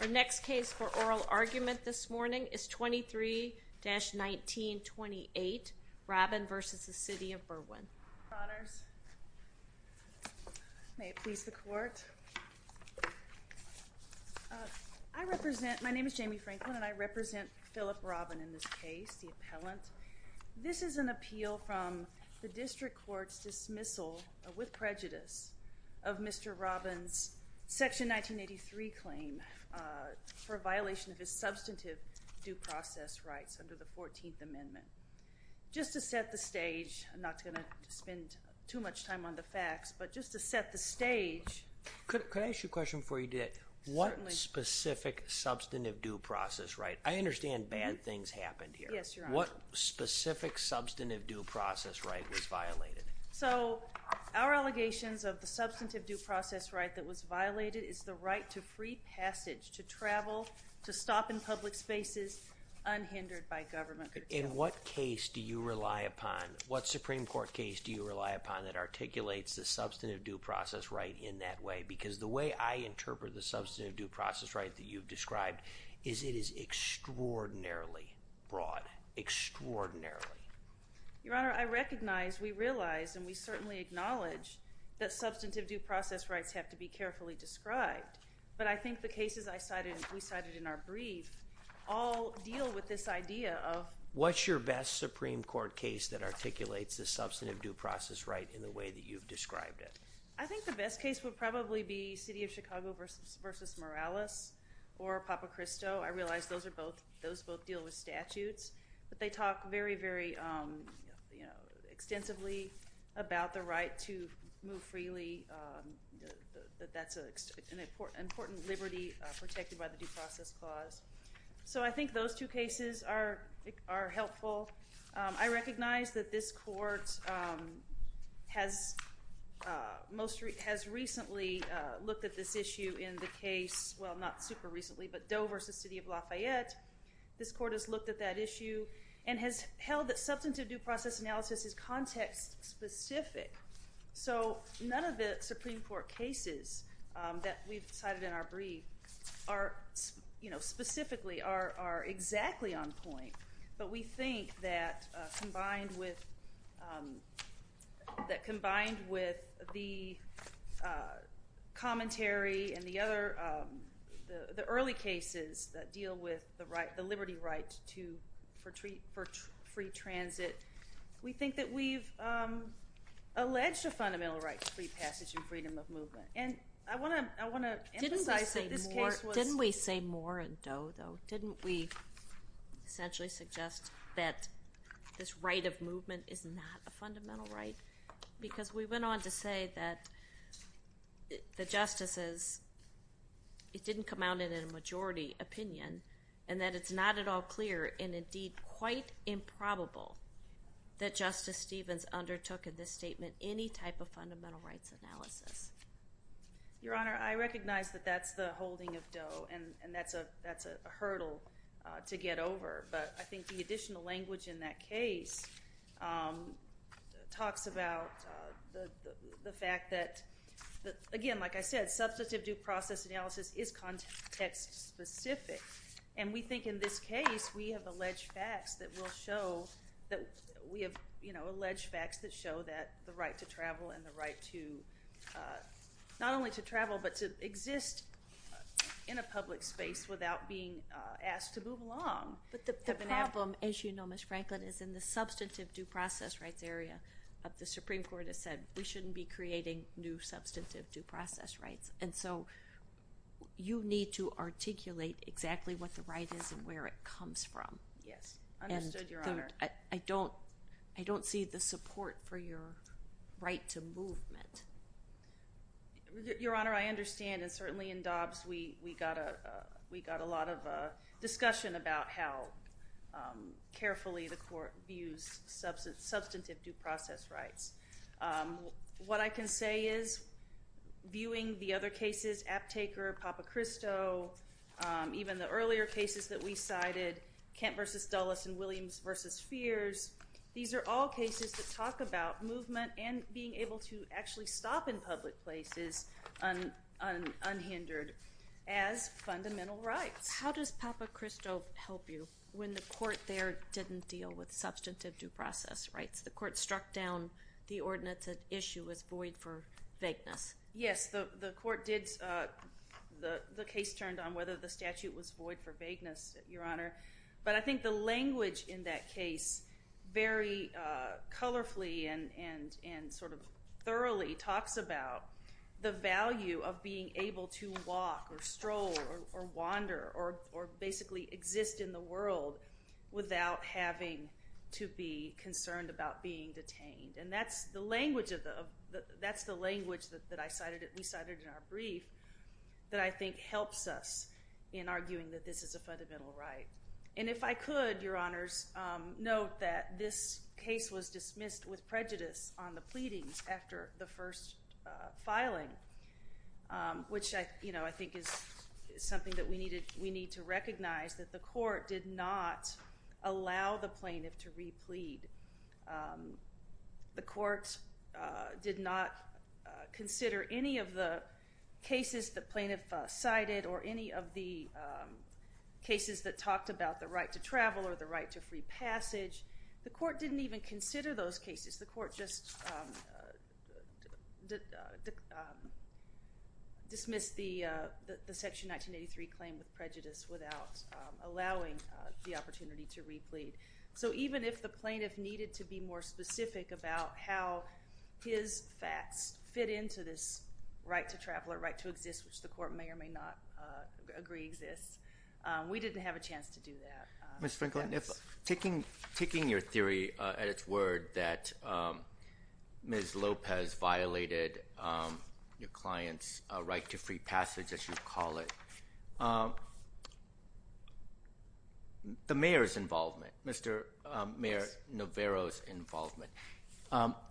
Our next case for oral argument this morning is 23-1928, Robbin v. City of Berwyn. Your Honors, may it please the Court. I represent, my name is Jamie Franklin, and I represent Phillip Robbin in this case, the appellant. This is an appeal from the District Court's dismissal, with prejudice, of Mr. Robbin's Section 1983 claim for violation of his substantive due process rights under the 14th Amendment. Just to set the stage, I'm not going to spend too much time on the facts, but just to set the stage. Could I ask you a question before you do that? Certainly. What specific substantive due process right? I understand bad things happened here. Yes, Your Honor. What specific substantive due process right was violated? So, our allegations of the substantive due process right that was violated is the right to free passage, to travel, to stop in public spaces, unhindered by government protection. In what case do you rely upon, what Supreme Court case do you rely upon that articulates the substantive due process right in that way? Because the way I interpret the substantive due process right that you've described is it is extraordinarily broad, extraordinarily. Your Honor, I recognize, we realize, and we certainly acknowledge that substantive due process rights have to be carefully described. But I think the cases we cited in our brief all deal with this idea of… What's your best Supreme Court case that articulates the substantive due process right in the way that you've described it? I think the best case would probably be City of Chicago v. Morales or Papa Cristo. I realize those both deal with statutes, but they talk very, very extensively about the right to move freely, that that's an important liberty protected by the due process clause. So, I think those two cases are helpful. I recognize that this court has recently looked at this issue in the case, well, not super recently, but Dover v. City of Lafayette. This court has looked at that issue and has held that substantive due process analysis is context specific. So, none of the Supreme Court cases that we've cited in our brief are, you know, specifically are exactly on point. But we think that combined with the commentary and the early cases that deal with the liberty right for free transit, we think that we've alleged a fundamental right to free passage and freedom of movement. Didn't we say more in Doe, though? Didn't we essentially suggest that this right of movement is not a fundamental right? Because we went on to say that the justices, it didn't come out in a majority opinion, and that it's not at all clear, and indeed quite improbable, that Justice Stevens undertook in this statement any type of fundamental rights analysis. Your Honor, I recognize that that's the holding of Doe, and that's a hurdle to get over. But I think the additional language in that case talks about the fact that, again, like I said, substantive due process analysis is context specific. And we think in this case, we have alleged facts that will show that we have, you know, alleged facts that show that the right to travel and the right to, not only to travel, but to exist in a public space without being asked to move along. But the problem, as you know, Ms. Franklin, is in the substantive due process rights area of the Supreme Court has said we shouldn't be creating new substantive due process rights. And so you need to articulate exactly what the right is and where it comes from. Yes, understood, Your Honor. I don't see the support for your right to movement. Your Honor, I understand, and certainly in Dobbs we got a lot of discussion about how carefully the court views substantive due process rights. What I can say is, viewing the other cases, Aptaker, Papacristo, even the earlier cases that we cited, Kent v. Dulles and Williams v. Fears, these are all cases that talk about movement and being able to actually stop in public places unhindered as fundamental rights. How does Papacristo help you when the court there didn't deal with substantive due process rights? The court struck down the ordinance at issue as void for vagueness. Yes, the court did. The case turned on whether the statute was void for vagueness, Your Honor. But I think the language in that case very colorfully and sort of thoroughly talks about the value of being able to walk or stroll or wander or basically exist in the world without having to be concerned about being detained. And that's the language that we cited in our brief that I think helps us in arguing that this is a fundamental right. And if I could, Your Honors, note that this case was dismissed with prejudice on the pleadings after the first filing, which I think is something that we need to recognize, that the court did not allow the plaintiff to re-plead. The court did not consider any of the cases the plaintiff cited or any of the cases that talked about the right to travel or the right to free passage. The court didn't even consider those cases. The court just dismissed the Section 1983 claim with prejudice without allowing the opportunity to re-plead. So even if the plaintiff needed to be more specific about how his facts fit into this right to travel or right to exist, which the court may or may not agree exists, we didn't have a chance to do that. Taking your theory at its word that Ms. Lopez violated your client's right to free passage, as you call it, the mayor's involvement, Mr. Mayor Navarro's involvement,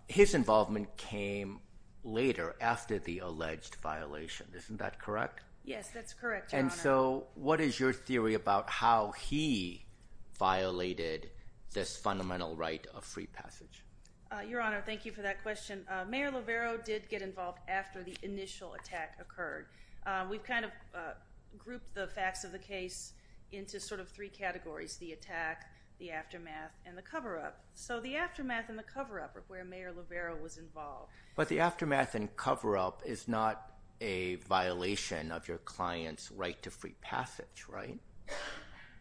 his involvement came later after the alleged violation. Isn't that correct? Yes, that's correct, Your Honor. And so what is your theory about how he violated this fundamental right of free passage? Your Honor, thank you for that question. Mayor Navarro did get involved after the initial attack occurred. We've kind of grouped the facts of the case into sort of three categories, the attack, the aftermath, and the cover-up. So the aftermath and the cover-up are where Mayor Navarro was involved. But the aftermath and cover-up is not a violation of your client's right to free passage, right?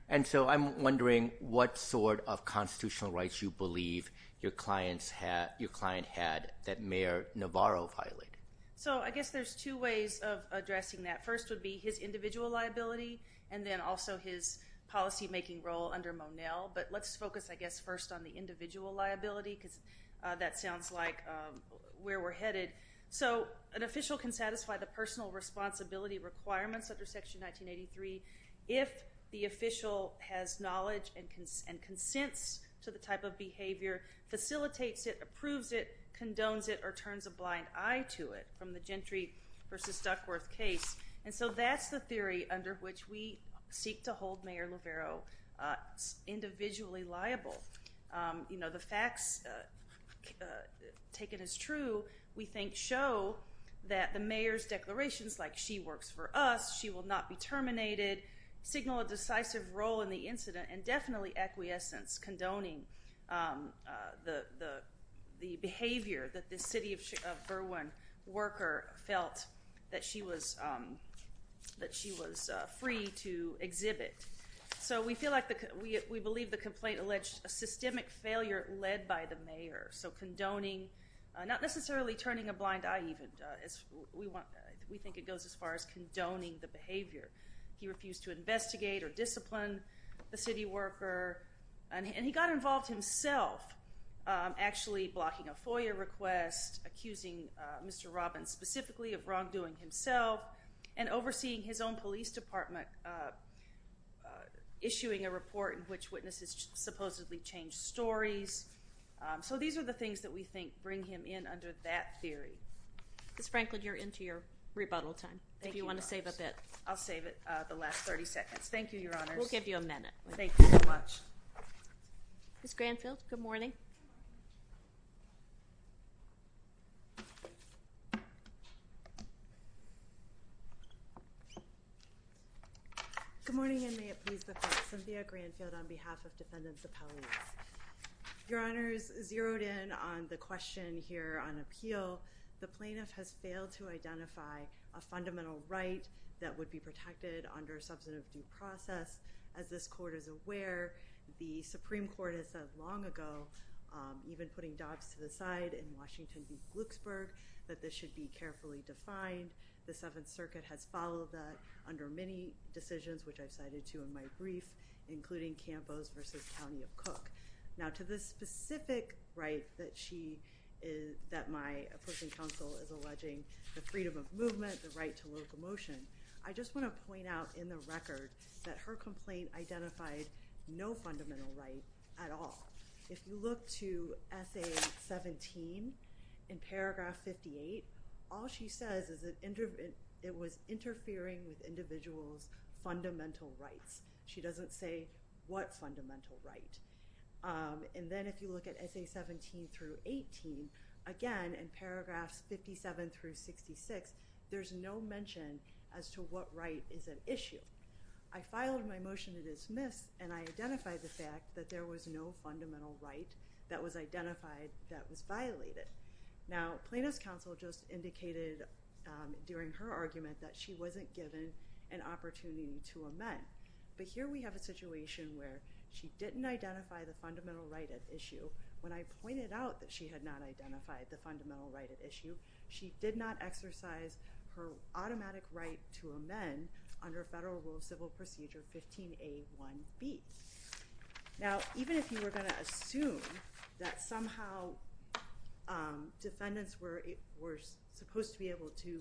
And so I'm wondering what sort of constitutional rights you believe your client had that Mayor Navarro violated. So I guess there's two ways of addressing that. The first would be his individual liability and then also his policymaking role under Monell. But let's focus, I guess, first on the individual liability because that sounds like where we're headed. So an official can satisfy the personal responsibility requirements under Section 1983 if the official has knowledge and consents to the type of behavior, facilitates it, approves it, condones it, or turns a blind eye to it from the Gentry v. Duckworth case. And so that's the theory under which we seek to hold Mayor Navarro individually liable. You know, the facts taken as true, we think, show that the mayor's declarations like, she works for us, she will not be terminated, signal a decisive role in the incident, and definitely acquiescence, condoning the behavior that the city of Berwyn worker felt that she was free to exhibit. So we feel like, we believe the complaint alleged a systemic failure led by the mayor. So condoning, not necessarily turning a blind eye even. We think it goes as far as condoning the behavior. He refused to investigate or discipline the city worker. And he got involved himself actually blocking a FOIA request, accusing Mr. Robbins specifically of wrongdoing himself, and overseeing his own police department issuing a report in which witnesses supposedly changed stories. So these are the things that we think bring him in under that theory. Ms. Franklin, you're into your rebuttal time. If you want to save a bit. I'll save it the last 30 seconds. Thank you, Your Honors. We'll give you a minute. Thank you so much. Ms. Granfield, good morning. Good morning, and may it please the court. Cynthia Granfield on behalf of defendants' appellate. Your Honors, zeroed in on the question here on appeal, the plaintiff has failed to identify a fundamental right that would be protected under a substantive due process. As this court is aware, the Supreme Court has said long ago, even putting Dobbs to the side in Washington v. Glucksburg, that this should be carefully defined. The Seventh Circuit has followed that under many decisions, which I've cited to in my brief, including Campos v. County of Cook. Now, to the specific right that my opposing counsel is alleging, the freedom of movement, the right to locomotion, I just want to point out in the record that her complaint identified no fundamental right at all. If you look to Essay 17 in Paragraph 58, all she says is it was interfering with individuals' fundamental rights. She doesn't say what fundamental right. And then if you look at Essay 17 through 18, again, in Paragraphs 57 through 66, there's no mention as to what right is at issue. I filed my motion to dismiss, and I identified the fact that there was no fundamental right that was identified that was violated. Now, Plaintiff's counsel just indicated during her argument that she wasn't given an opportunity to amend. But here we have a situation where she didn't identify the fundamental right at issue. When I pointed out that she had not identified the fundamental right at issue, she did not exercise her automatic right to amend under Federal Rule of Civil Procedure 15A.1.B. Now, even if you were going to assume that somehow defendants were supposed to be able to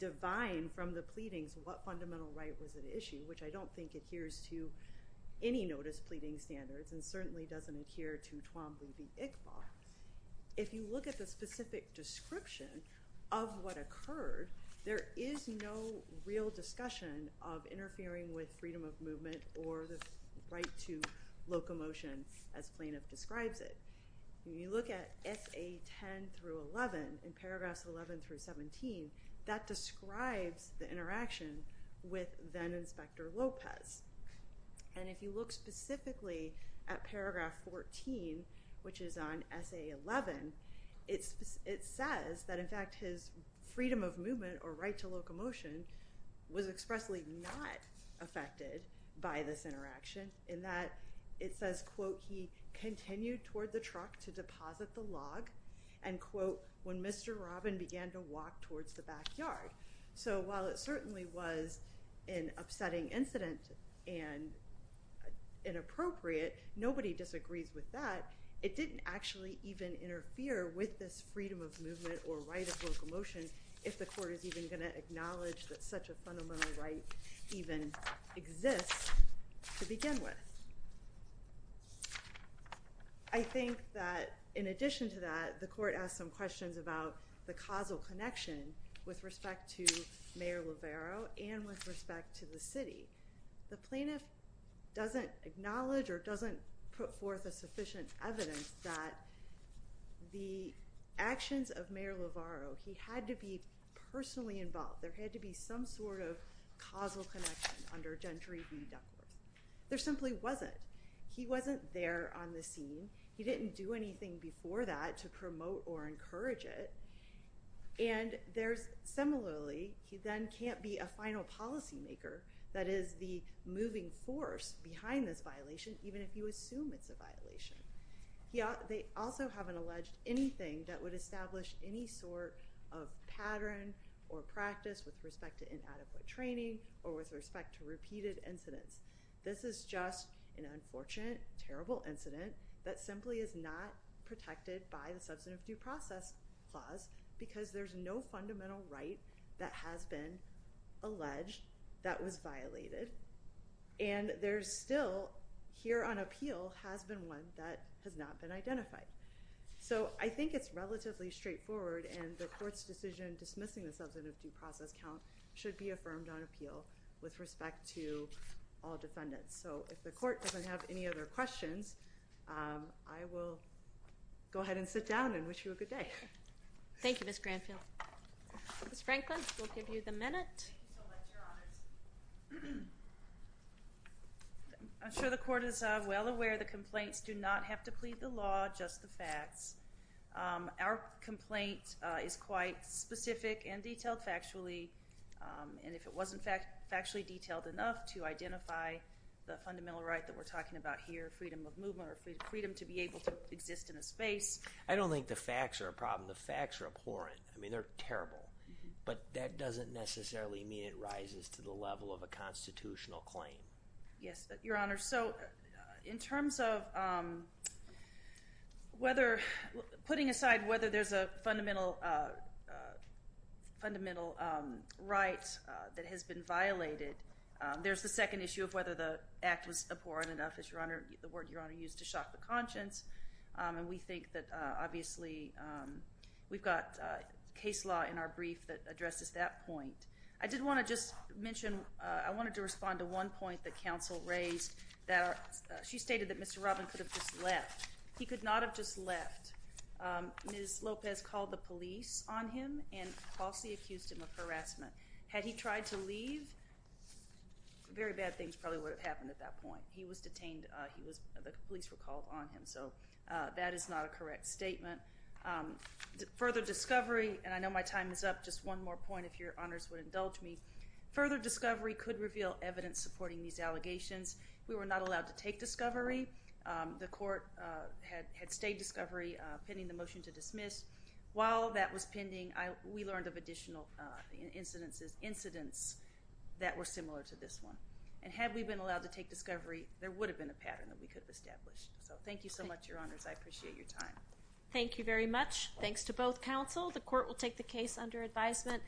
divine from the pleadings what fundamental right was at issue, which I don't think adheres to any notice pleading standards and certainly doesn't adhere to Twombly v. Iqbal, if you look at the specific description of what occurred, there is no real discussion of interfering with freedom of movement or the right to locomotion as Plaintiff describes it. When you look at Essay 10 through 11, in Paragraphs 11 through 17, that describes the interaction with then-Inspector Lopez. And if you look specifically at Paragraph 14, which is on Essay 11, it says that, in fact, his freedom of movement or right to locomotion was expressly not affected by this interaction in that it says, quote, he continued toward the truck to deposit the log and, quote, when Mr. Robin began to walk towards the backyard. So while it certainly was an upsetting incident and inappropriate, nobody disagrees with that, it didn't actually even interfere with this freedom of movement or right of locomotion if the court is even going to acknowledge that such a fundamental right even exists to begin with. I think that in addition to that, the court asked some questions about the causal connection with respect to Mayor Lovero and with respect to the city. The plaintiff doesn't acknowledge or doesn't put forth a sufficient evidence that the actions of Mayor Lovero, he had to be personally involved. There had to be some sort of causal connection under Gentry v. Duckworth. There simply wasn't. He wasn't there on the scene. He didn't do anything before that to promote or encourage it. And similarly, he then can't be a final policymaker that is the moving force behind this violation, even if you assume it's a violation. They also haven't alleged anything that would establish any sort of pattern or practice with respect to inadequate training or with respect to repeated incidents. This is just an unfortunate, terrible incident that simply is not protected by the substantive due process clause because there's no fundamental right that has been alleged that was violated. And there's still, here on appeal, has been one that has not been identified. So I think it's relatively straightforward, and the court's decision dismissing the substantive due process count should be affirmed on appeal with respect to all defendants. So if the court doesn't have any other questions, I will go ahead and sit down and wish you a good day. Thank you, Ms. Granfield. Ms. Franklin, we'll give you the minute. I'm sure the court is well aware the complaints do not have to plead the law, just the facts. Our complaint is quite specific and detailed factually, and if it wasn't factually detailed enough to identify the fundamental right that we're talking about here, freedom of movement or freedom to be able to exist in a space. I don't think the facts are a problem. The facts are abhorrent. I mean, they're terrible. But that doesn't necessarily mean it rises to the level of a constitutional claim. Yes, Your Honor. So in terms of putting aside whether there's a fundamental right that has been violated, there's the second issue of whether the act was abhorrent enough, the word Your Honor used, to shock the conscience. And we think that obviously we've got case law in our brief that addresses that point. I did want to just mention I wanted to respond to one point that counsel raised. She stated that Mr. Robin could have just left. He could not have just left. Ms. Lopez called the police on him and falsely accused him of harassment. Had he tried to leave, very bad things probably would have happened at that point. He was detained. The police were called on him. So that is not a correct statement. Further discovery, and I know my time is up, just one more point if Your Honors would indulge me. Further discovery could reveal evidence supporting these allegations. We were not allowed to take discovery. The court had stayed discovery pending the motion to dismiss. While that was pending, we learned of additional incidents that were similar to this one. And had we been allowed to take discovery, there would have been a pattern that we could have established. So thank you so much, Your Honors. I appreciate your time. Thank you very much. Thanks to both counsel. The court will take the case under advisement.